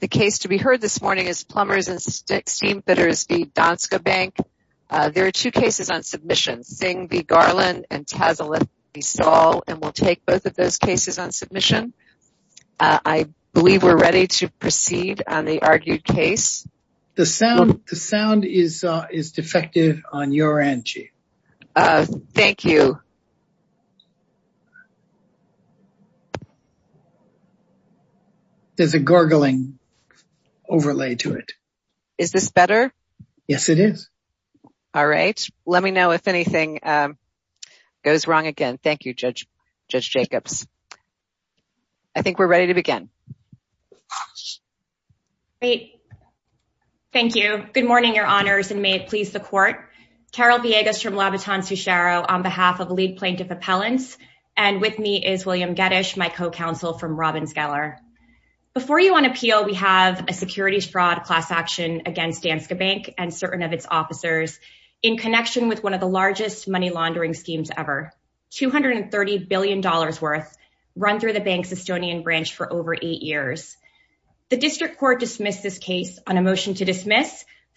The case to be heard this morning is Plumbers & Steamfitters v. Danske Bank. There are two cases on submission, Sing v. Garland and Tazalith v. Saul, and we'll take both of those cases on submission. I believe we're ready to proceed on the argued case. The sound is defective on your end, Chief. Thank you. There's a gurgling overlay to it. Is this better? Yes, it is. All right. Let me know if anything goes wrong again. Thank you, Judge Jacobs. I think we're ready to begin. Great. Thank you. Good morning, Your Honors, and may it please the Court. Carol Villegas from Labaton-Sucharo on behalf of Lead Plaintiff Appellants, and with me is William Geddes, my co-counsel from Robbins Geller. Before you on appeal, we have a securities fraud class action against Danske Bank and certain of its officers in connection with one of the largest money laundering schemes ever, $230 billion worth, run through the bank's Estonian branch for over eight years.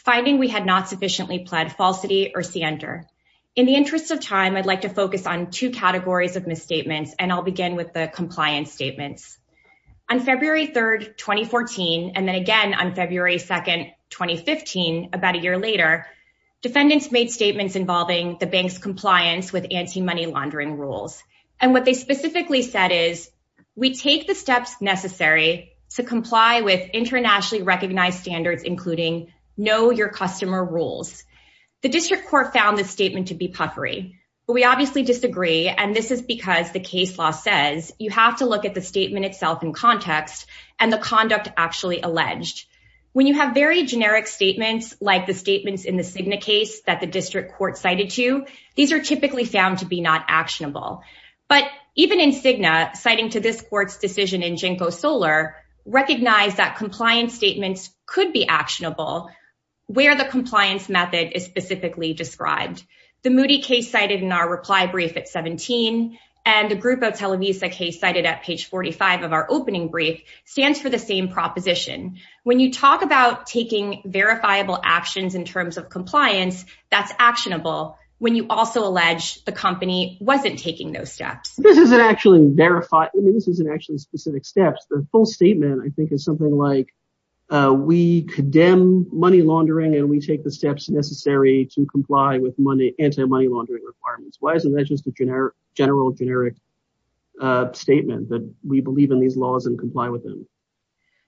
Finding we had not sufficiently pled falsity or scienter. In the interest of time, I'd like to focus on two categories of misstatements, and I'll begin with the compliance statements. On February 3rd, 2014, and then again on February 2nd, 2015, about a year later, defendants made statements involving the bank's compliance with anti-money laundering rules. And what they specifically said is, we take the steps necessary to comply with your customer rules. The District Court found the statement to be puffery, but we obviously disagree. And this is because the case law says you have to look at the statement itself in context and the conduct actually alleged. When you have very generic statements like the statements in the Cigna case that the District Court cited to, these are typically found to be not actionable. But even in Cigna, citing to this court's decision in JNCO Solar, recognize that compliance statements could be actionable where the compliance method is specifically described. The Moody case cited in our reply brief at 17, and a group of Televisa case cited at page 45 of our opening brief, stands for the same proposition. When you talk about taking verifiable actions in terms of compliance, that's actionable when you also allege the company wasn't taking those steps. This isn't actually verified. I mean, this isn't actually specific steps. The full statement, I think, is something like, we condemn money laundering and we take the steps necessary to comply with anti-money laundering requirements. Why isn't that just a general generic statement that we believe in these laws and comply with them?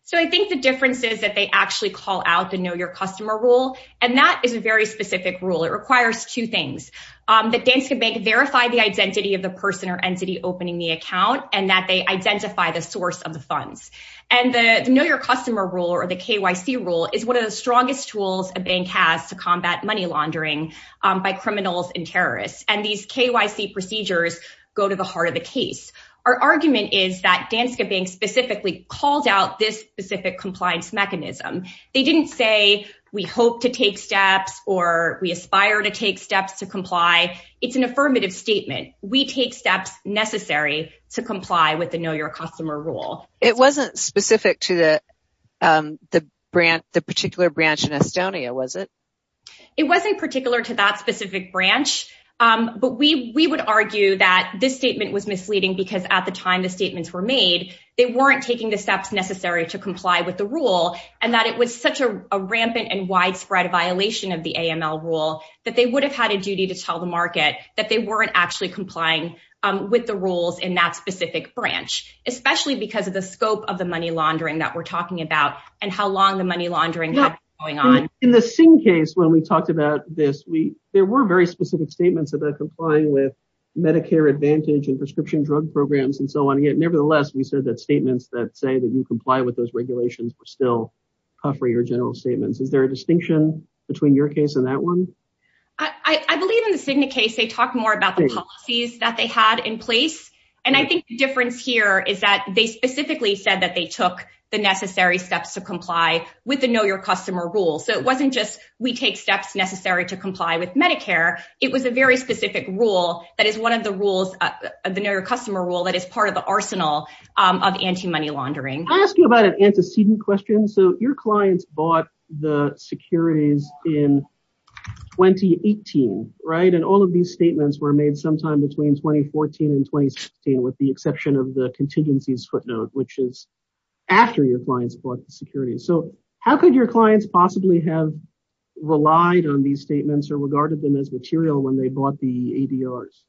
So I think the difference is that they actually call out the know your customer rule. And that is a very specific rule. It requires two things. That Danska Bank verify the identity of the person or entity opening the account, and that they identify the source of the funds. And the know your customer rule or the KYC rule is one of the strongest tools a bank has to combat money laundering by criminals and terrorists. And these KYC procedures go to the heart of the case. Our argument is that Danska Bank specifically called out this specific compliance mechanism. They didn't say, we hope to take steps or we aspire to take steps to comply. It's an affirmative statement. We take steps necessary to comply with the know your customer rule. It wasn't specific to the particular branch in Estonia, was it? It wasn't particular to that specific branch. But we would argue that this statement was misleading because at the time the statements were made, they weren't taking the steps necessary to comply with the rule and that it was such a rampant and widespread violation of the AML rule that they would have had a duty to tell the market that they weren't actually complying with the rules in that specific branch, especially because of the scope of the money laundering that we're talking about and how long the money laundering was going on. In the same case, when we talked about this, there were very specific statements about complying with Medicare advantage and prescription drug programs and so on. Nevertheless, we said that statements that say that you comply with those regulations were still covering your general statements. Is there a distinction between your case and that one? I believe in the Cigna case, they talk more about the policies that they had in place. And I think the difference here is that they specifically said that they took the necessary steps to comply with the know your customer rule. So it wasn't just we take steps necessary to comply with Medicare. It was a very specific rule that is one of the rules of the know your customer rule that is part of the arsenal of anti-money laundering. Can I ask you about an antecedent question? So your clients bought the securities in 2018, right? And all of these statements were made sometime between 2014 and 2016, with the exception of the contingencies footnote, which is after your clients bought the security. So how could your clients possibly have relied on these statements or regarded them as material when they bought the ADRs?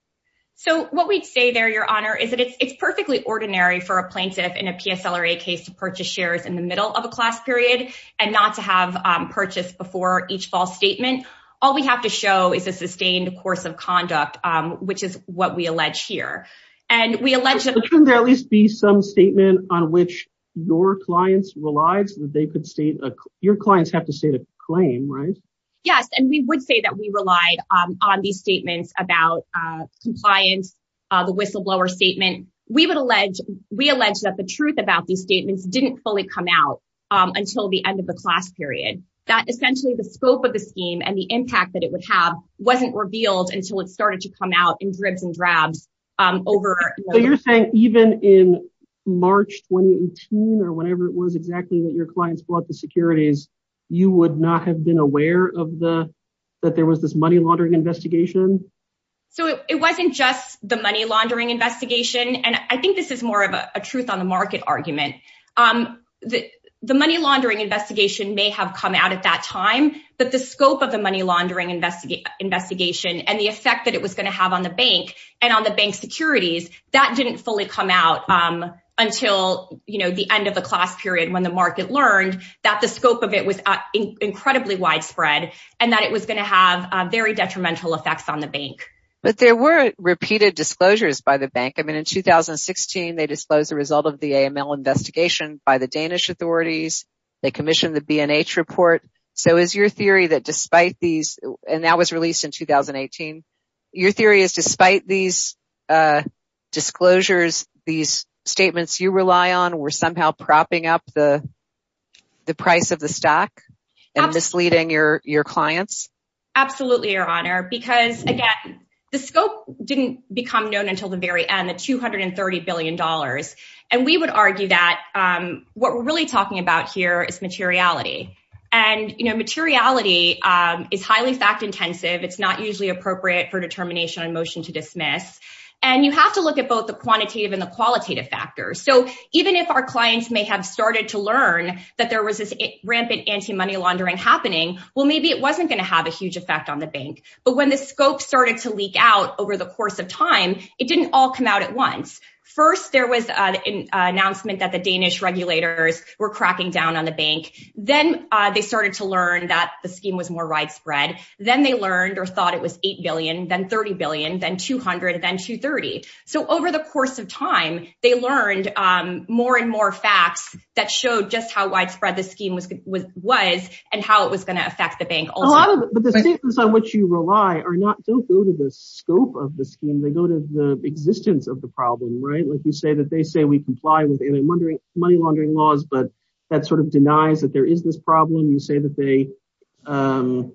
So what we'd say there, Your Honor, is that it's perfectly ordinary for a plaintiff in a PSL or a case to purchase shares in the middle of a class period and not to have purchased before each false statement. All we have to show is a sustained course of conduct, which is what we allege here. And we allege that there at least be some statement on which your clients relies that they could state. Your clients have to state a claim, right? Yes, and we would say that we relied on these statements about compliance, the whistleblower statement. We allege that the truth about these statements didn't fully come out until the end of the class period. That essentially the scope of the scheme and the impact that it would have wasn't revealed until it started to come out in dribs and drabs over... So you're saying even in March 2018 or whenever it was exactly that your clients bought the securities, you would not have been aware that there was this money laundering investigation? So it wasn't just the money laundering investigation. And I think this is more of a truth on the market argument. The money laundering investigation may have come out at that time, but the scope of the money laundering investigation and the effect that it was gonna have on the bank and on the bank securities, that didn't fully come out until the end of the class period when the market learned that the scope of it was incredibly widespread and that it was gonna have very detrimental effects on the bank. But there were repeated disclosures by the bank. I mean, in 2016, they disclosed the result of the AML investigation by the Danish authorities. They commissioned the B&H report. So is your theory that despite these... And that was released in 2018. Your theory is despite these disclosures, these statements you rely on were somehow propping up the price of the stock and misleading your clients? Absolutely, Your Honor. Because again, the scope didn't become known until the very end, the $230 billion. And we would argue that what we're really talking about here is materiality. And materiality is highly fact-intensive. It's not usually appropriate for determination on motion to dismiss. And you have to look at both the quantitative and the qualitative factors. So even if our clients may have started to learn that there was this rampant anti-money laundering happening, well, maybe it wasn't gonna have a huge effect on the bank. But when the scope started to leak out over the course of time, it didn't all come out at once. First, there was an announcement that the Danish regulators were cracking down on the bank. Then they started to learn that the scheme was more widespread. Then they learned or thought it was 8 billion, then 30 billion, then 200, then 230. So over the course of time, they learned more and more facts that showed just how widespread the scheme was and how it was gonna affect the bank also. A lot of it, but the statements on which you rely are not, don't go to the scope of the scheme. They go to the existence of the problem, right? Like you say that they say we comply with any money laundering laws, but that sort of denies that there is this problem. You say that they, and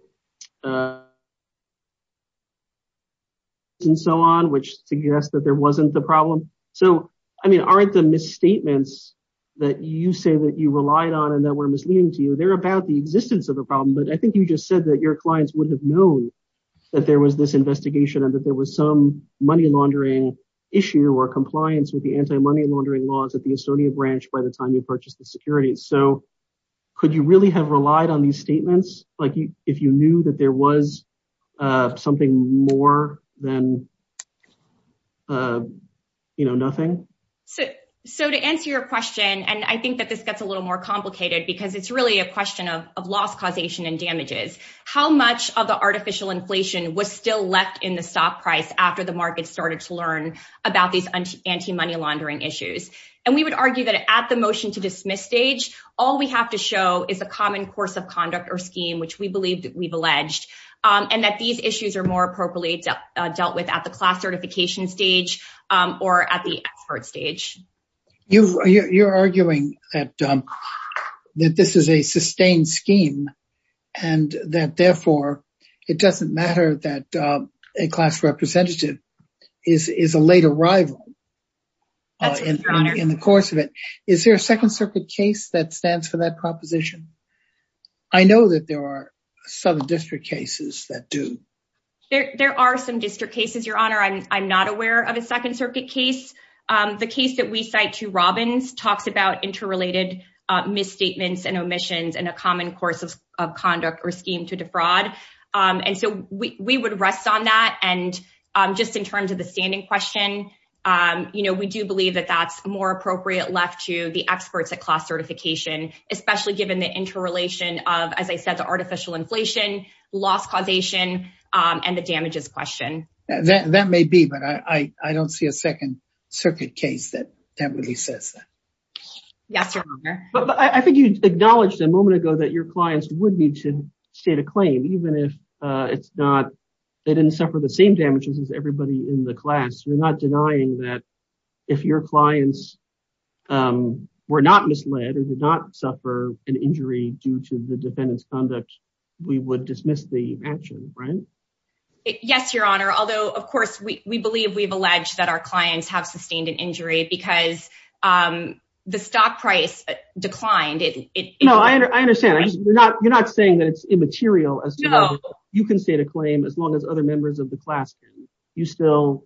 so on, which suggests that there wasn't the problem. So, I mean, aren't the misstatements that you say that you relied on and that were misleading to you, they're about the existence of the problem. But I think you just said that your clients would have known that there was this investigation and that there was some money laundering issue or compliance with the anti-money laundering laws at the Estonia branch by the time you purchased the security. So could you really have relied on these statements? Like if you knew that there was something more than, you know, nothing? So to answer your question, and I think that this gets a little more complicated because it's really a question of loss causation and damages. How much of the artificial inflation was still left in the stock price after the market started to learn about these anti-money laundering issues? And we would argue that at the motion to dismiss stage, all we have to show is a common course of conduct or scheme, which we believe that we've alleged and that these issues are more appropriately dealt with at the class certification stage or at the expert stage. You're arguing that this is a sustained scheme and that therefore it doesn't matter that a class representative is a late arrival in the course of it. Is there a second circuit case that stands for that proposition? I know that there are some district cases that do. There are some district cases, Your Honor. I'm not aware of a second circuit case. The case that we cite to Robbins talks about interrelated misstatements and omissions and a common course of conduct or scheme to defraud. And so we would rest on that. And just in terms of the standing question, we do believe that that's more appropriate left to the experts at class certification, especially given the interrelation of, as I said, the artificial inflation, loss causation, and the damages question. That may be, but I don't see a second. Circuit case that really says that. Yes, Your Honor. But I think you acknowledged a moment ago that your clients would need to state a claim, even if it's not, they didn't suffer the same damages as everybody in the class. You're not denying that if your clients were not misled or did not suffer an injury due to the defendant's conduct, Yes, Your Honor. Although of course we believe we've alleged that our clients have sustained an injury because the stock price declined. No, I understand. You're not saying that it's immaterial as to whether you can state a claim as long as other members of the class can. You still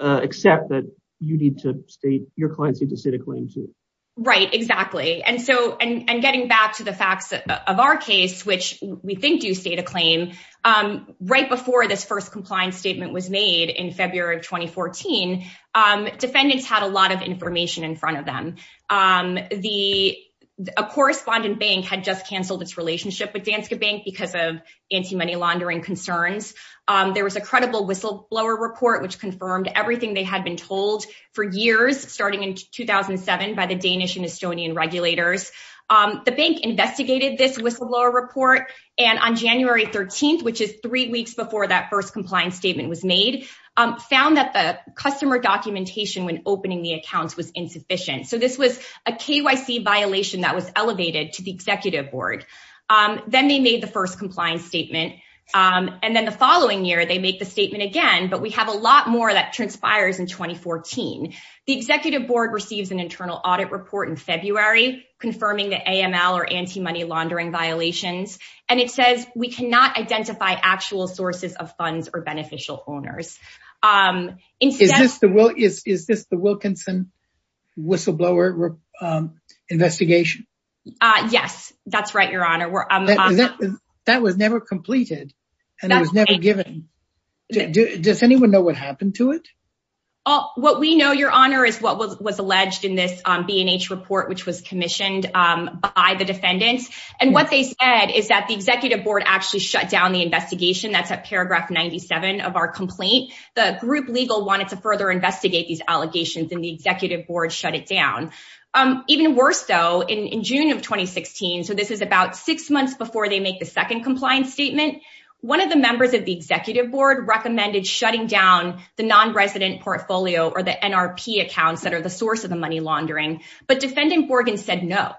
accept that you need to state, your clients need to state a claim too. Right, exactly. And so, and getting back to the facts of our case, which we think do state a claim, right before this first compliance statement was made in February of 2014, defendants had a lot of information in front of them. A correspondent bank had just canceled its relationship with Danske Bank because of anti-money laundering concerns. There was a credible whistleblower report which confirmed everything they had been told for years, starting in 2007 by the Danish and Estonian regulators. The bank investigated this whistleblower report. And on January 13th, which is three weeks before that first compliance statement was made, found that the customer documentation when opening the accounts was insufficient. So this was a KYC violation that was elevated to the executive board. Then they made the first compliance statement. And then the following year, they make the statement again, but we have a lot more that transpires in 2014. The executive board receives an internal audit report in February confirming the AML or anti-money laundering violations. And it says we cannot identify actual sources of funds or beneficial owners. Is this the Wilkinson whistleblower investigation? Yes, that's right, Your Honor. That was never completed and it was never given. Does anyone know what happened to it? What we know, Your Honor, is what was alleged in this B&H report, which was commissioned by the defendants. And what they said is that the executive board actually shut down the investigation. That's at paragraph 97 of our complaint. The group legal wanted to further investigate these allegations and the executive board shut it down. Even worse though, in June of 2016, so this is about six months before they make the second compliance statement, one of the members of the executive board recommended shutting down the non-resident portfolio or the NRP accounts that are the source of the money laundering. But defendant Borgen said no,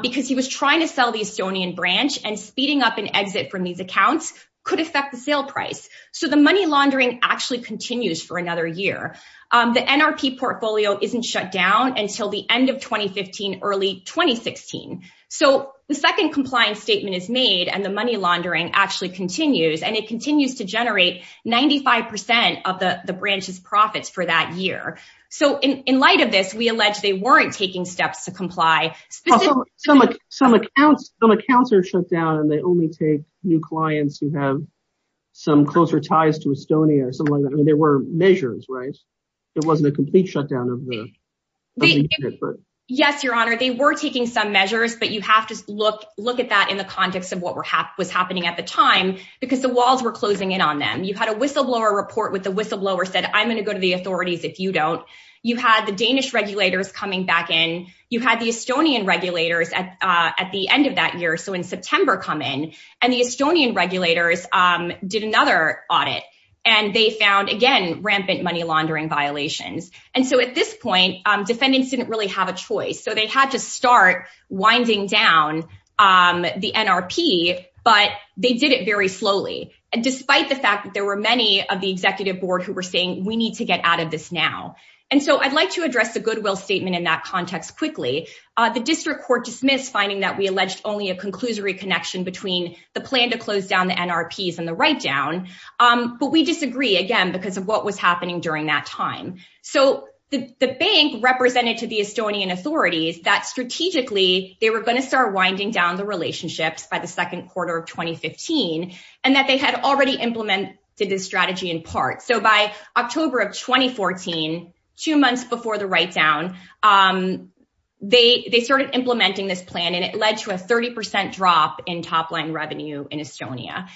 because he was trying to sell the Estonian branch and speeding up an exit from these accounts could affect the sale price. So the money laundering actually continues for another year. The NRP portfolio isn't shut down until the end of 2015, early 2016. So the second compliance statement is made and the money laundering actually continues and it continues to generate 95% of the branch's profits for that year. So in light of this, we allege they weren't taking steps to comply. Some accounts are shut down and they only take new clients who have some closer ties to Estonia or something like that. I mean, there were measures, right? It wasn't a complete shutdown of the unit. But- Yes, your honor. They were taking some measures, but you have to look at that in the context of what was happening at the time because the walls were closing in on them. You had a whistleblower report with the whistleblower said, I'm gonna go to the authorities if you don't. You had the Danish regulators coming back in. You had the Estonian regulators at the end of that year. So in September come in and the Estonian regulators did another audit and they found again, rampant money laundering violations. And so at this point, defendants didn't really have a choice. So they had to start winding down the NRP, but they did it very slowly. And despite the fact that there were many of the executive board who were saying, we need to get out of this now. And so I'd like to address the Goodwill statement in that context quickly. The district court dismissed finding that we alleged only a conclusory connection between the plan to close down the NRPs and the write-down, but we disagree again because of what was happening during that time. So the bank represented to the Estonian authorities that strategically, they were gonna start winding down the relationships by the second quarter of 2015 and that they had already implemented this strategy in part. So by October of 2014, two months before the write-down, they started implementing this plan and it led to a 30% drop in top-line revenue in Estonia.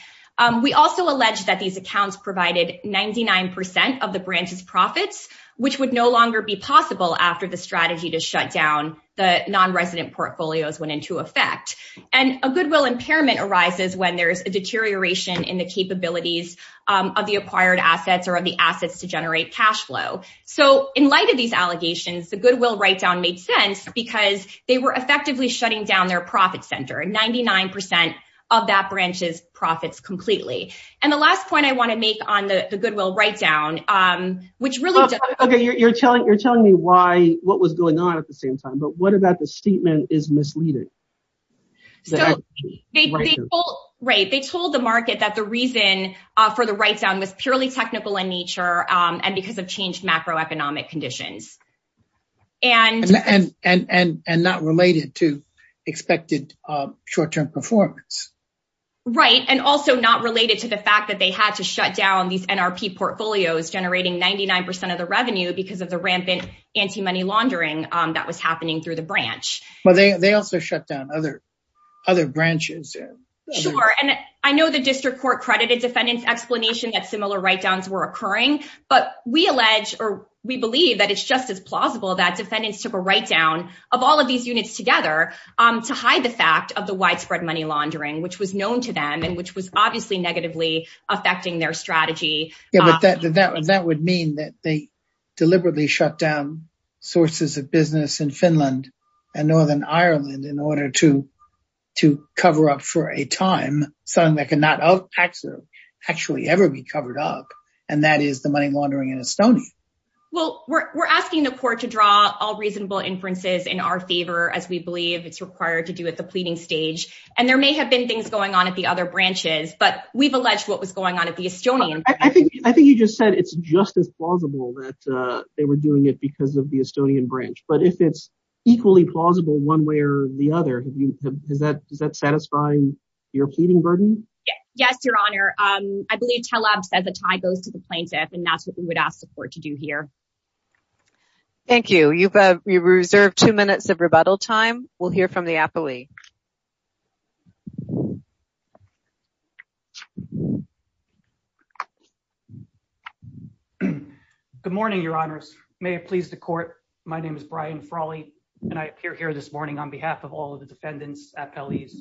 We also alleged that these accounts provided 99% of the branches profits, which would no longer be possible after the strategy to shut down the non-resident portfolios went into effect. And a Goodwill impairment arises when there's a deterioration in the capabilities of the acquired assets or of the assets to generate cashflow. So in light of these allegations, the Goodwill write-down made sense because they were effectively shutting down their profit center and 99% of that branch's profits completely. And the last point I wanna make on the Goodwill write-down, which really- Okay, you're telling me why, what was going on at the same time, but what about the statement is misleading? Right, they told the market that the reason for the write-down was purely technical in nature and because of changed macroeconomic conditions. And not related to expected short-term performance. Right, and also not related to the fact that they had to shut down these NRP portfolios generating 99% of the revenue because of the rampant anti-money laundering that was happening through the branch. But they also shut down other branches. Sure, and I know the district court credited defendants explanation that similar write-downs were occurring, but we allege or we believe that it's just as plausible that defendants took a write-down of all of these units together to hide the fact of the widespread money laundering, which was known to them and which was obviously negatively affecting their strategy. Yeah, but that would mean that they deliberately shut down sources of business in Finland and Northern Ireland in order to cover up for a time something that could not actually ever be covered up. And that is the money laundering in Estonia. Well, we're asking the court to draw all reasonable inferences in our favor as we believe it's required to do at the pleading stage. And there may have been things going on at the other branches, but we've alleged what was going on at the Estonian. I think you just said it's just as plausible that they were doing it because of the Estonian branch. But if it's equally plausible one way or the other, does that satisfy your pleading burden? Yes, Your Honor. I believe Taleb said the tie goes to the plaintiff and that's what we would ask the court to do here. Thank you. You've reserved two minutes of rebuttal time. We'll hear from the appellee. Good morning, Your Honors. May it please the court. My name is Brian Frawley and I appear here this morning on behalf of all of the defendants, appellees.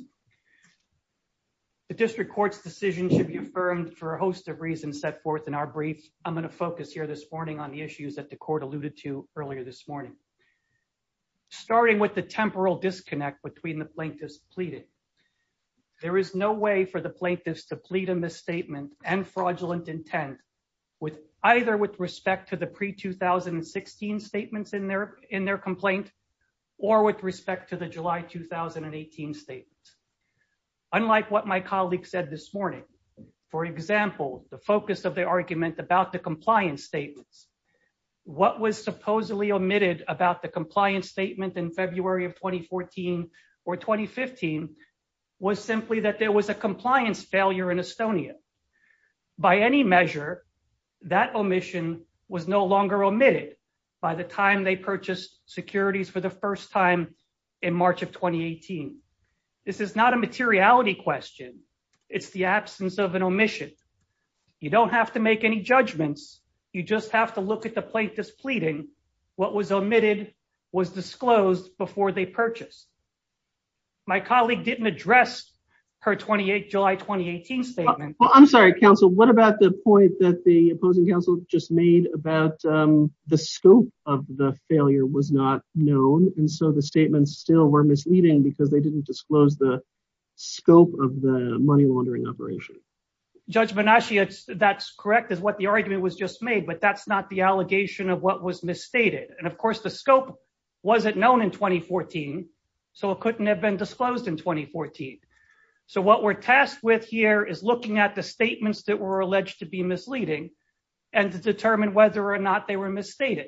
The district court's decision should be affirmed for a host of reasons set forth in our brief. I'm gonna focus here this morning on the issues that the court alluded to earlier this morning. Starting with the temporal disconnect between the plaintiffs pleading. There is no way for the plaintiffs to plead a misstatement and fraudulent intent either with respect to the pre-2016 statements in their complaint or with respect to the July, 2018 statement. Unlike what my colleague said this morning, for example, the focus of the argument about the compliance statements, what was supposedly omitted about the compliance statement in February of 2014 or 2015 was simply that there was a compliance failure in Estonia. By any measure, that omission was no longer omitted by the time they purchased securities for the first time in March of 2018. This is not a materiality question. It's the absence of an omission. You don't have to make any judgments. You just have to look at the plaintiffs pleading. What was omitted was disclosed before they purchased. My colleague didn't address her July, 2018 statement. Well, I'm sorry, counsel. What about the point that the opposing counsel just made about the scope of the failure was not known? And so the statements still were misleading because they didn't disclose the scope of the money laundering operation. Judge Benashia, that's correct, is what the argument was just made, but that's not the allegation of what was misstated. And of course, the scope wasn't known in 2014, so it couldn't have been disclosed in 2014. So what we're tasked with here is looking at the statements that were alleged to be misleading and to determine whether or not they were misstated.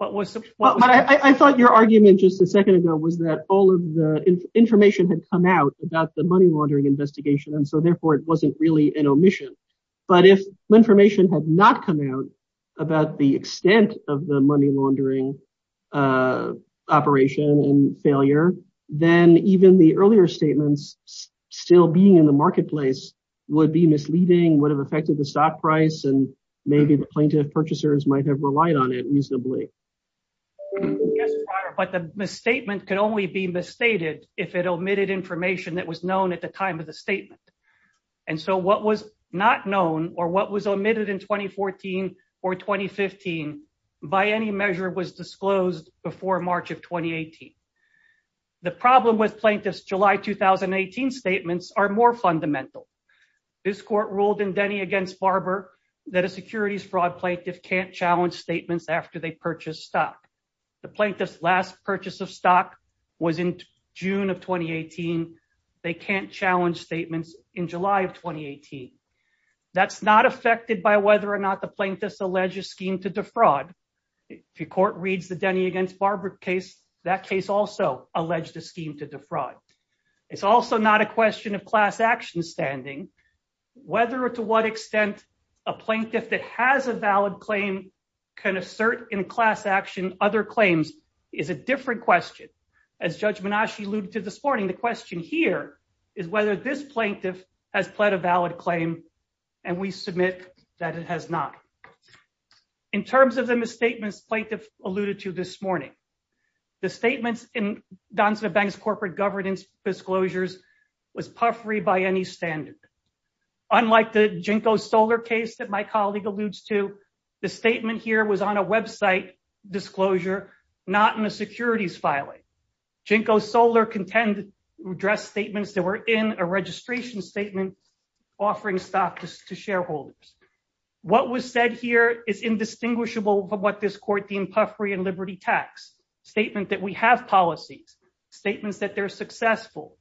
I thought your argument just a second ago was that all of the information had come out about the money laundering investigation, and so therefore it wasn't really an omission. But if information had not come out about the extent of the money laundering operation and failure, then even the earlier statements still being in the marketplace would be misleading, would have affected the stock price, and maybe the plaintiff purchasers might have relied on it reasonably. I guess, but the misstatement could only be misstated if it omitted information that was known at the time of the statement. And so what was not known or what was omitted in 2014 or 2015 by any measure was disclosed before March of 2018. The problem with plaintiff's July 2018 statements are more fundamental. This court ruled in Denny against Barber that a securities fraud plaintiff can't challenge statements after they purchase stock. The plaintiff's last purchase of stock was in June of 2018. They can't challenge statements in July of 2018. That's not affected by whether or not the plaintiff's alleged a scheme to defraud. If your court reads the Denny against Barber case, that case also alleged a scheme to defraud. It's also not a question of class action standing, whether or to what extent a plaintiff that has a valid claim can assert in class action other claims is a different question. As Judge Minashi alluded to this morning, the question here is whether this plaintiff has pled a valid claim and we submit that it has not. In terms of the misstatements plaintiff alluded to this morning, the statements in Donson and Banks corporate governance disclosures was puffery by any standard. Unlike the JNCO Solar case that my colleague alludes to, the statement here was on a website disclosure, not in a securities filing. JNCO Solar contended to address statements that were in a registration statement offering stock to shareholders. What was said here is indistinguishable from what this court deemed puffery and liberty tax. Statement that we have policies, statements that they're successful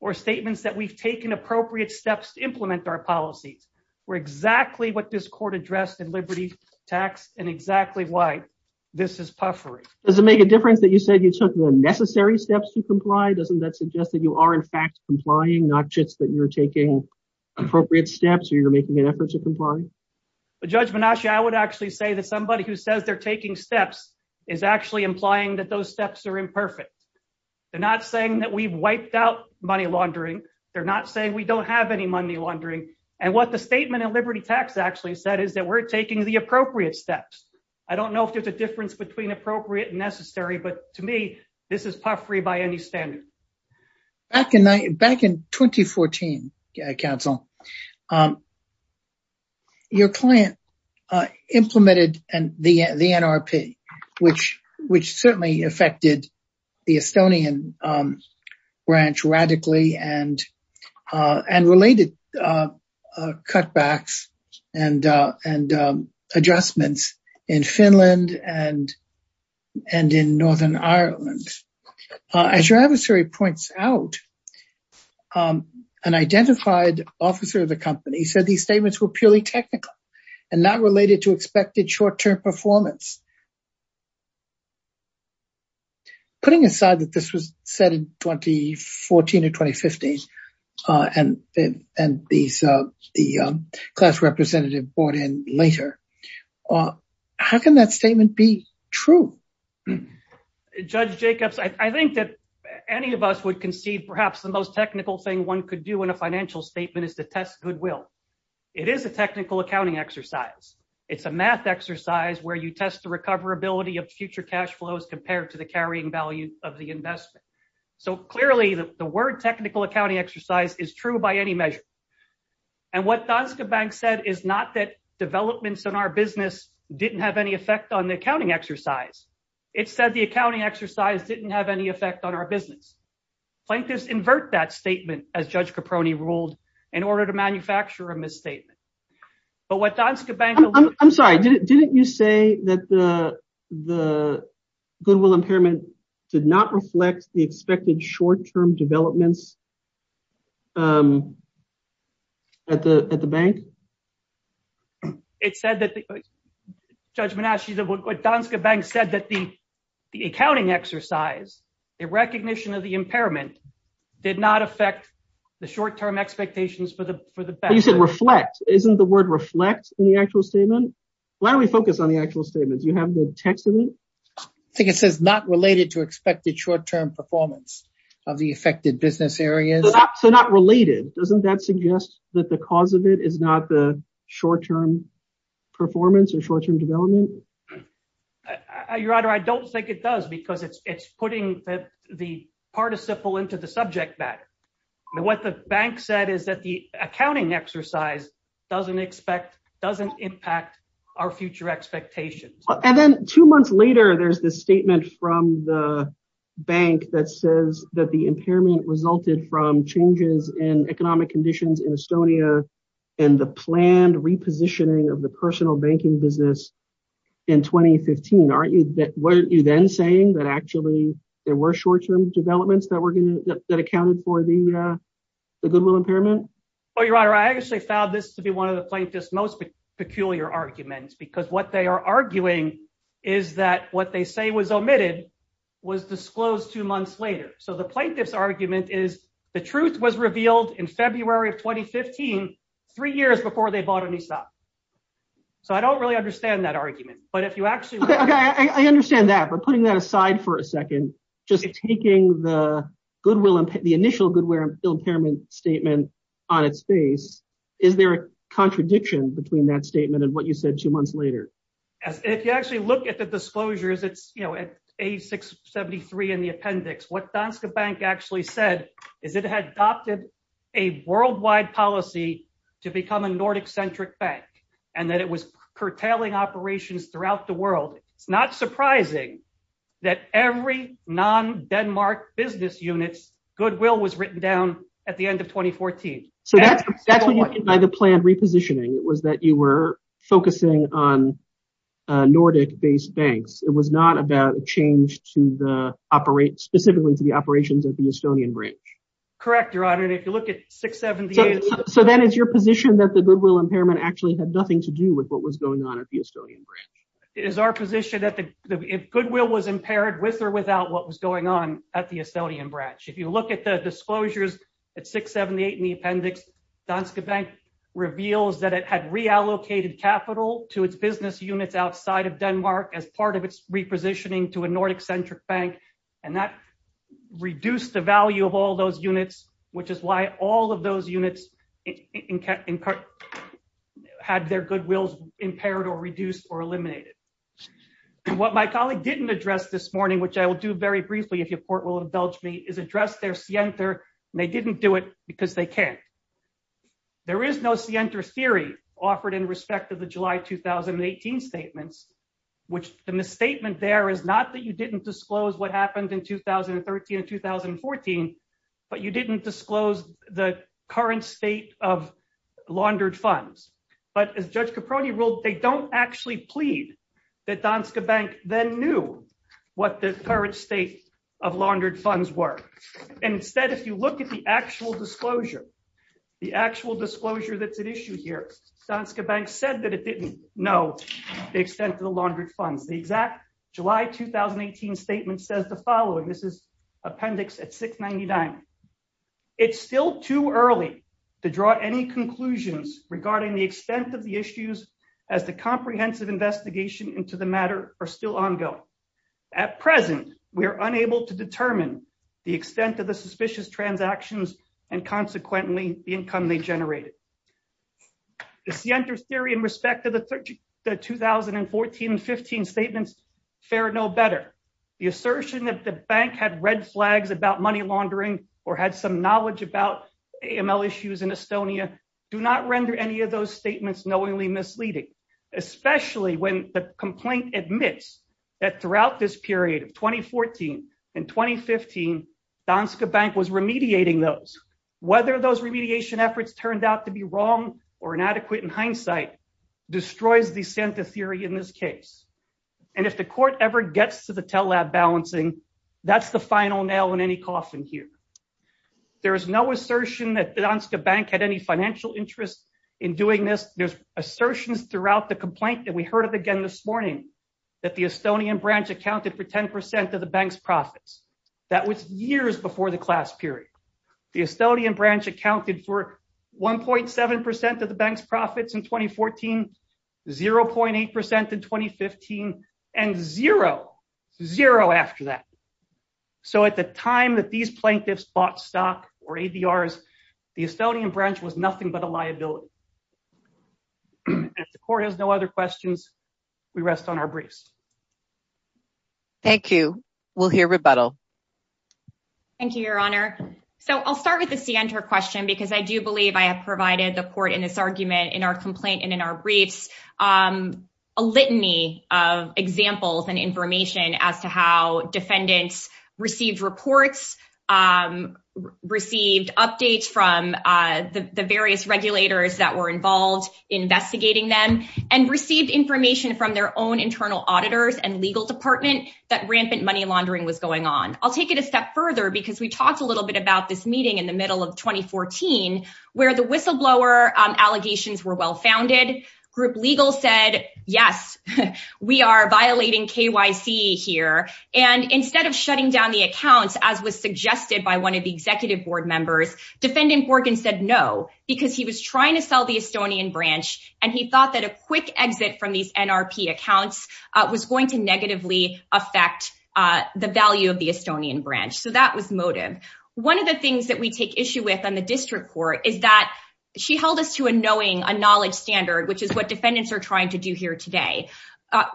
or statements that we've taken appropriate steps to implement our policies were exactly what this court addressed in liberty tax and exactly why this is puffery. Does it make a difference that you said you took the necessary steps to comply? Doesn't that suggest that you are in fact complying, not just that you're taking appropriate steps or you're making an effort to comply? But Judge Minashi, I would actually say that somebody who says they're taking steps is actually implying that those steps are imperfect. They're not saying that we've wiped out money laundering. They're not saying we don't have any money laundering. And what the statement in liberty tax actually said is that we're taking the appropriate steps. I don't know if there's a difference between appropriate and necessary, but to me, this is puffery by any standard. Back in 2014, counsel, your client implemented the NRP, which certainly affected the Estonian branch radically and related cutbacks and adjustments in Finland and in Northern Ireland. As your adversary points out, an identified officer of the company said these statements were purely technical and not related to expected short-term performance. Putting aside that this was said in 2014 or 2015 and the class representative brought in later, how can that statement be true? Judge Jacobs, I think that any of us would concede perhaps the most technical thing one could do in a financial statement is to test goodwill. It is a technical accounting exercise. It's a math exercise where you test the recoverability of future cash flows compared to the carrying value of the investment. So clearly the word technical accounting exercise is true by any measure. And what Danske Bank said is not that developments in our business didn't have any effect on the accounting exercise. It said the accounting exercise didn't have any effect on our business. Plaintiffs invert that statement as Judge Caproni ruled in order to manufacture a misstatement. But what Danske Bank- I'm sorry, didn't you say that the goodwill impairment did not reflect the expected short-term developments at the bank? It said that the- Judge Menasci, Danske Bank said that the accounting exercise, the recognition of the impairment, did not affect the short-term expectations for the bank. You said reflect, isn't the word reflect in the actual statement? Why don't we focus on the actual statement? Do you have the text of it? I think it says not related to expected short-term performance of the affected business areas. So not related, doesn't that suggest that the cause of it is not the short-term performance or short-term development? Your Honor, I don't think it does because it's putting the participle into the subject matter. What the bank said is that the accounting exercise doesn't impact our future expectations. And then two months later, there's this statement from the bank that says that the impairment resulted from changes in economic conditions in Estonia and the planned repositioning of the personal banking business in 2015. Aren't you then saying that actually there were short-term developments that accounted for the goodwill impairment? Well, Your Honor, I actually found this to be one of the plaintiff's most peculiar arguments because what they are arguing is that what they say was omitted was disclosed two months later. So the plaintiff's argument is the truth was revealed in February of 2015, three years before they bought a new stock. So I don't really understand that argument. But if you actually- Okay, I understand that. But putting that aside for a second, just taking the initial goodwill impairment statement on its face, is there a contradiction between that statement and what you said two months later? If you actually look at the disclosures, it's A673 in the appendix. What Danske Bank actually said is it had adopted a worldwide policy to become a Nordic-centric bank and that it was curtailing operations throughout the world. It's not surprising that every non-Denmark business unit's goodwill was written down at the end of 2014. So that's what you did by the planned repositioning was that you were focusing on Nordic-based banks. It was not about a change specifically to the operations at the Estonian branch. Correct, Your Honor. And if you look at 678- So then it's your position that the goodwill impairment actually had nothing to do with what was going on at the Estonian branch. It is our position that if goodwill was impaired with or without what was going on at the Estonian branch. If you look at the disclosures at 678 in the appendix, Danske Bank reveals that it had reallocated capital to its business units outside of Denmark as part of its repositioning to a Nordic-centric bank. And that reduced the value of all those units, which is why all of those units had their goodwills impaired or reduced or eliminated. What my colleague didn't address this morning, which I will do very briefly if your court will indulge me is address their scienter. They didn't do it because they can't. There is no scienter theory offered in respect of the July, 2018 statements, which the misstatement there is not that you didn't disclose what happened in 2013 and 2014, but you didn't disclose the current state of laundered funds. But as Judge Caproni ruled, they don't actually plead that Danske Bank then knew what the current state of laundered funds were. And instead, if you look at the actual disclosure, the actual disclosure that's at issue here, Danske Bank said that it didn't know the extent of the laundered funds. The exact July, 2018 statement says the following. This is appendix at 699. It's still too early to draw any conclusions regarding the extent of the issues as the comprehensive investigation into the matter are still ongoing. At present, we are unable to determine the extent of the suspicious transactions and consequently the income they generated. The scienter theory in respect of the 2014 and 15 statements fair no better. The assertion that the bank had red flags about money laundering or had some knowledge about AML issues in Estonia do not render any of those statements knowingly misleading, especially when the complaint admits that throughout this period of 2014 and 2015, Danske Bank was remediating those. Whether those remediation efforts turned out to be wrong or inadequate in hindsight destroys the scienter theory in this case. And if the court ever gets to the tell lab balancing, that's the final nail in any coffin here. There is no assertion that Danske Bank had any financial interest in doing this. There's assertions throughout the complaint that we heard of again this morning that the Estonian branch accounted for 10% of the bank's profits. That was years before the class period. The Estonian branch accounted for 1.7% of the bank's profits in 2014, 0.8% in 2015 and zero, zero after that. So at the time that these plaintiffs bought stock or ADRs, the Estonian branch was nothing but a liability. If the court has no other questions, we rest on our briefs. Thank you. We'll hear rebuttal. Thank you, your honor. So I'll start with the scienter question because I do believe I have provided the court in this argument, in our complaint and in our briefs, a litany of examples and information as to how defendants received reports, received updates from the various regulators that were involved investigating them and received information from their own internal auditors and legal department that rampant money laundering was going on. I'll take it a step further because we talked a little bit about this meeting in the middle of 2014, where the whistleblower allegations were well-founded, group legal said, yes, we are violating KYC here. And instead of shutting down the accounts, as was suggested by one of the executive board members, defendant Borgen said no, because he was trying to sell the Estonian branch and he thought that a quick exit from these NRP accounts was going to negatively affect the value of the Estonian branch. So that was motive. One of the things that we take issue with on the district court is that she held us to a knowing, a knowledge standard, which is what defendants are trying to do here today.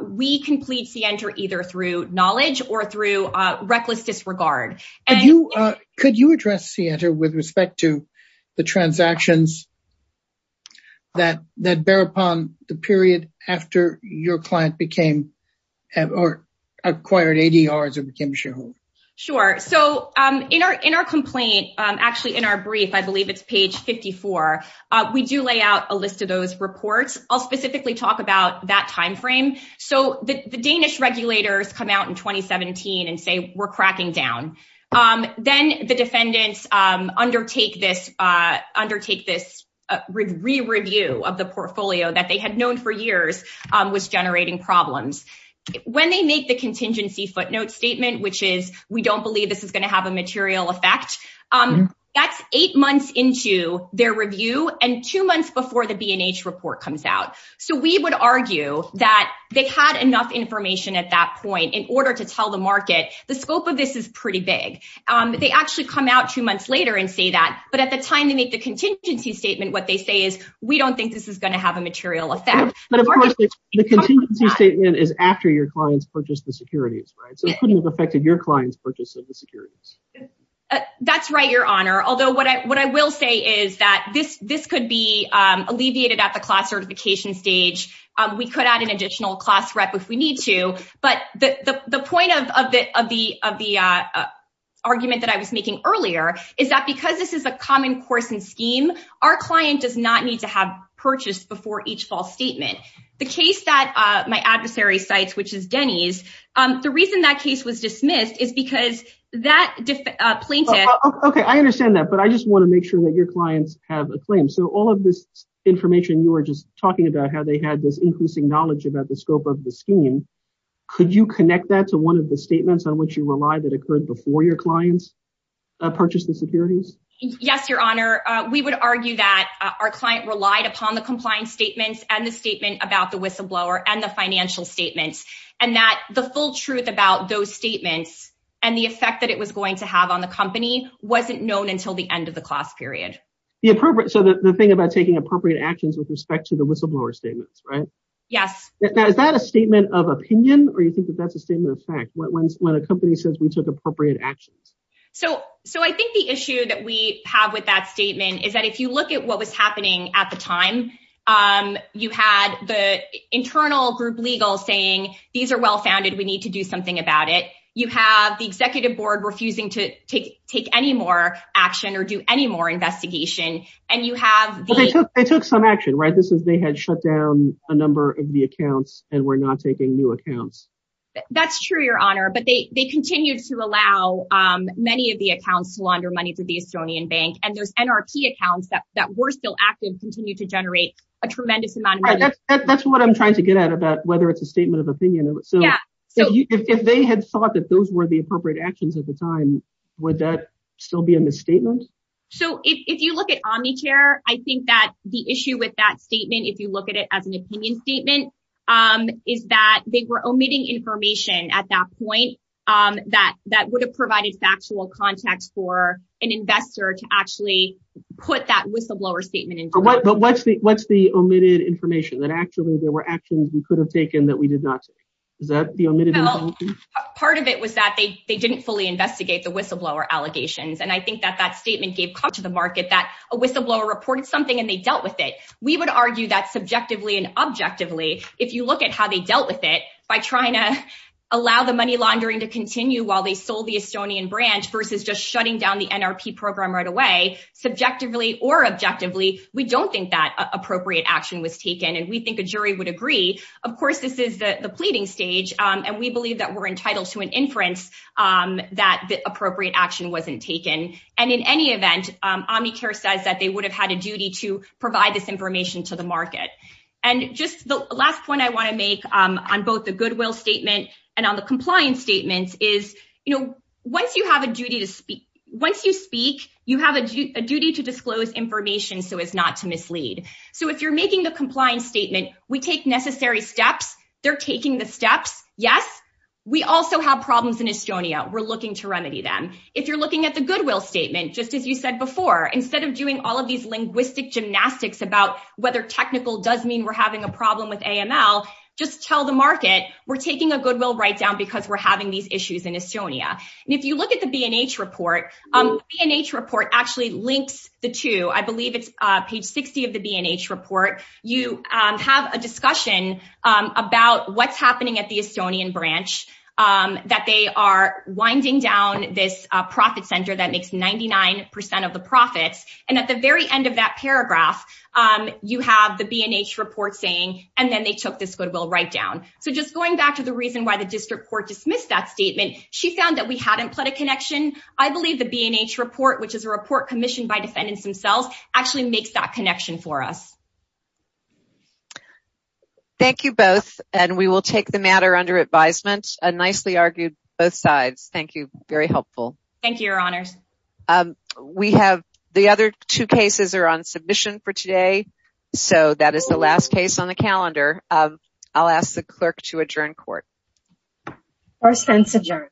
We complete scienter either through knowledge or through reckless disregard. And you, could you address scienter with respect to the transactions that bear upon the period after your client became or acquired ADRs or became a shareholder? Sure. So in our complaint, actually in our brief, I believe it's page 54, we do lay out a list of those reports. I'll specifically talk about that timeframe. So the Danish regulators come out in 2017 and say, we're cracking down. Then the defendants undertake this re-review of the portfolio that they had known for years was generating problems. When they make the contingency footnote statement, which is, we don't believe this is going to have a material effect. That's eight months into their review and two months before the B&H report comes out. So we would argue that they had enough information at that point in order to tell the market, the scope of this is pretty big. They actually come out two months later and say that, but at the time they make the contingency statement, what they say is, we don't think this is going to have a material effect. But of course, the contingency statement is after your clients purchased the securities, right? So it could have affected your client's purchase of the securities. That's right, your honor. Although what I will say is that this could be alleviated at the class certification stage. We could add an additional class rep if we need to. But the point of the argument that I was making earlier is that because this is a common course and scheme, our client does not need to have purchased before each false statement. The case that my adversary cites, which is Denny's, the reason that case was dismissed is because that plaintiff- Okay, I understand that. But I just want to make sure that your clients have a claim. So all of this information you were just talking about, how they had this increasing knowledge about the scope of the scheme, could you connect that to one of the statements on which you rely that occurred before your clients purchased the securities? Yes, your honor. We would argue that our client relied upon the compliance statements and the statement about the whistleblower and the financial statements. And that the full truth about those statements and the effect that it was going to have on the company wasn't known until the end of the class period. So the thing about taking appropriate actions with respect to the whistleblower statements, right? Yes. Is that a statement of opinion? Or you think that that's a statement of fact? When a company says we took appropriate actions? So I think the issue that we have with that statement is that if you look at what was happening at the time, you had the internal group legal saying, these are well-founded, we need to do something about it. You have the executive board refusing to take any more action or do any more investigation. And you have the- They took some action, right? They had shut down a number of the accounts and were not taking new accounts. That's true, your honor. But they continued to allow many of the accounts to launder money through the Estonian bank. And those NRP accounts that were still active continue to generate a tremendous amount of money. That's what I'm trying to get at about whether it's a statement of opinion. So if they had thought that those were the appropriate actions at the time, would that still be a misstatement? So if you look at Omnichair, I think that the issue with that statement, if you look at it as an opinion statement, is that they were omitting information at that point that would have provided factual context for an investor to actually put that whistleblower statement in place. But what's the omitted information? That actually there were actions we could have taken that we did not take. Is that the omitted information? Part of it was that they didn't fully investigate the whistleblower allegations. And I think that that statement gave cause to the market that a whistleblower reported something and they dealt with it. We would argue that subjectively and objectively, if you look at how they dealt with it, by trying to allow the money laundering to continue while they sold the Estonian branch versus just shutting down the NRP program right away, subjectively or objectively, we don't think that appropriate action was taken and we think a jury would agree. Of course, this is the pleading stage and we believe that we're entitled to an inference that the appropriate action wasn't taken. And in any event, Omnichair says that they would have had a duty to provide this information to the market. And just the last point I wanna make on both the Goodwill statement and on the compliance statements is, once you have a duty to speak, once you speak, you have a duty to disclose information so as not to mislead. So if you're making the compliance statement, we take necessary steps, they're taking the steps. Yes, we also have problems in Estonia, we're looking to remedy them. If you're looking at the Goodwill statement, just as you said before, instead of doing all of these linguistic gymnastics about whether technical does mean we're having a problem with AML, just tell the market, we're taking a Goodwill write down because we're having these issues in Estonia. And if you look at the B&H report, B&H report actually links the two. I believe it's page 60 of the B&H report. You have a discussion about what's happening at the Estonian branch, that they are winding down this profit center that makes 99% of the profits. And at the very end of that paragraph, you have the B&H report saying, and then they took this Goodwill write down. So just going back to the reason why the district court dismissed that statement, she found that we hadn't put a connection. I believe the B&H report, which is a report commissioned by defendants themselves, actually makes that connection for us. Thank you both. And we will take the matter under advisement. A nicely argued both sides. Thank you. Very helpful. Thank you, your honors. We have the other two cases are on submission for today. So that is the last case on the calendar. I'll ask the clerk to adjourn court. Court stands adjourned.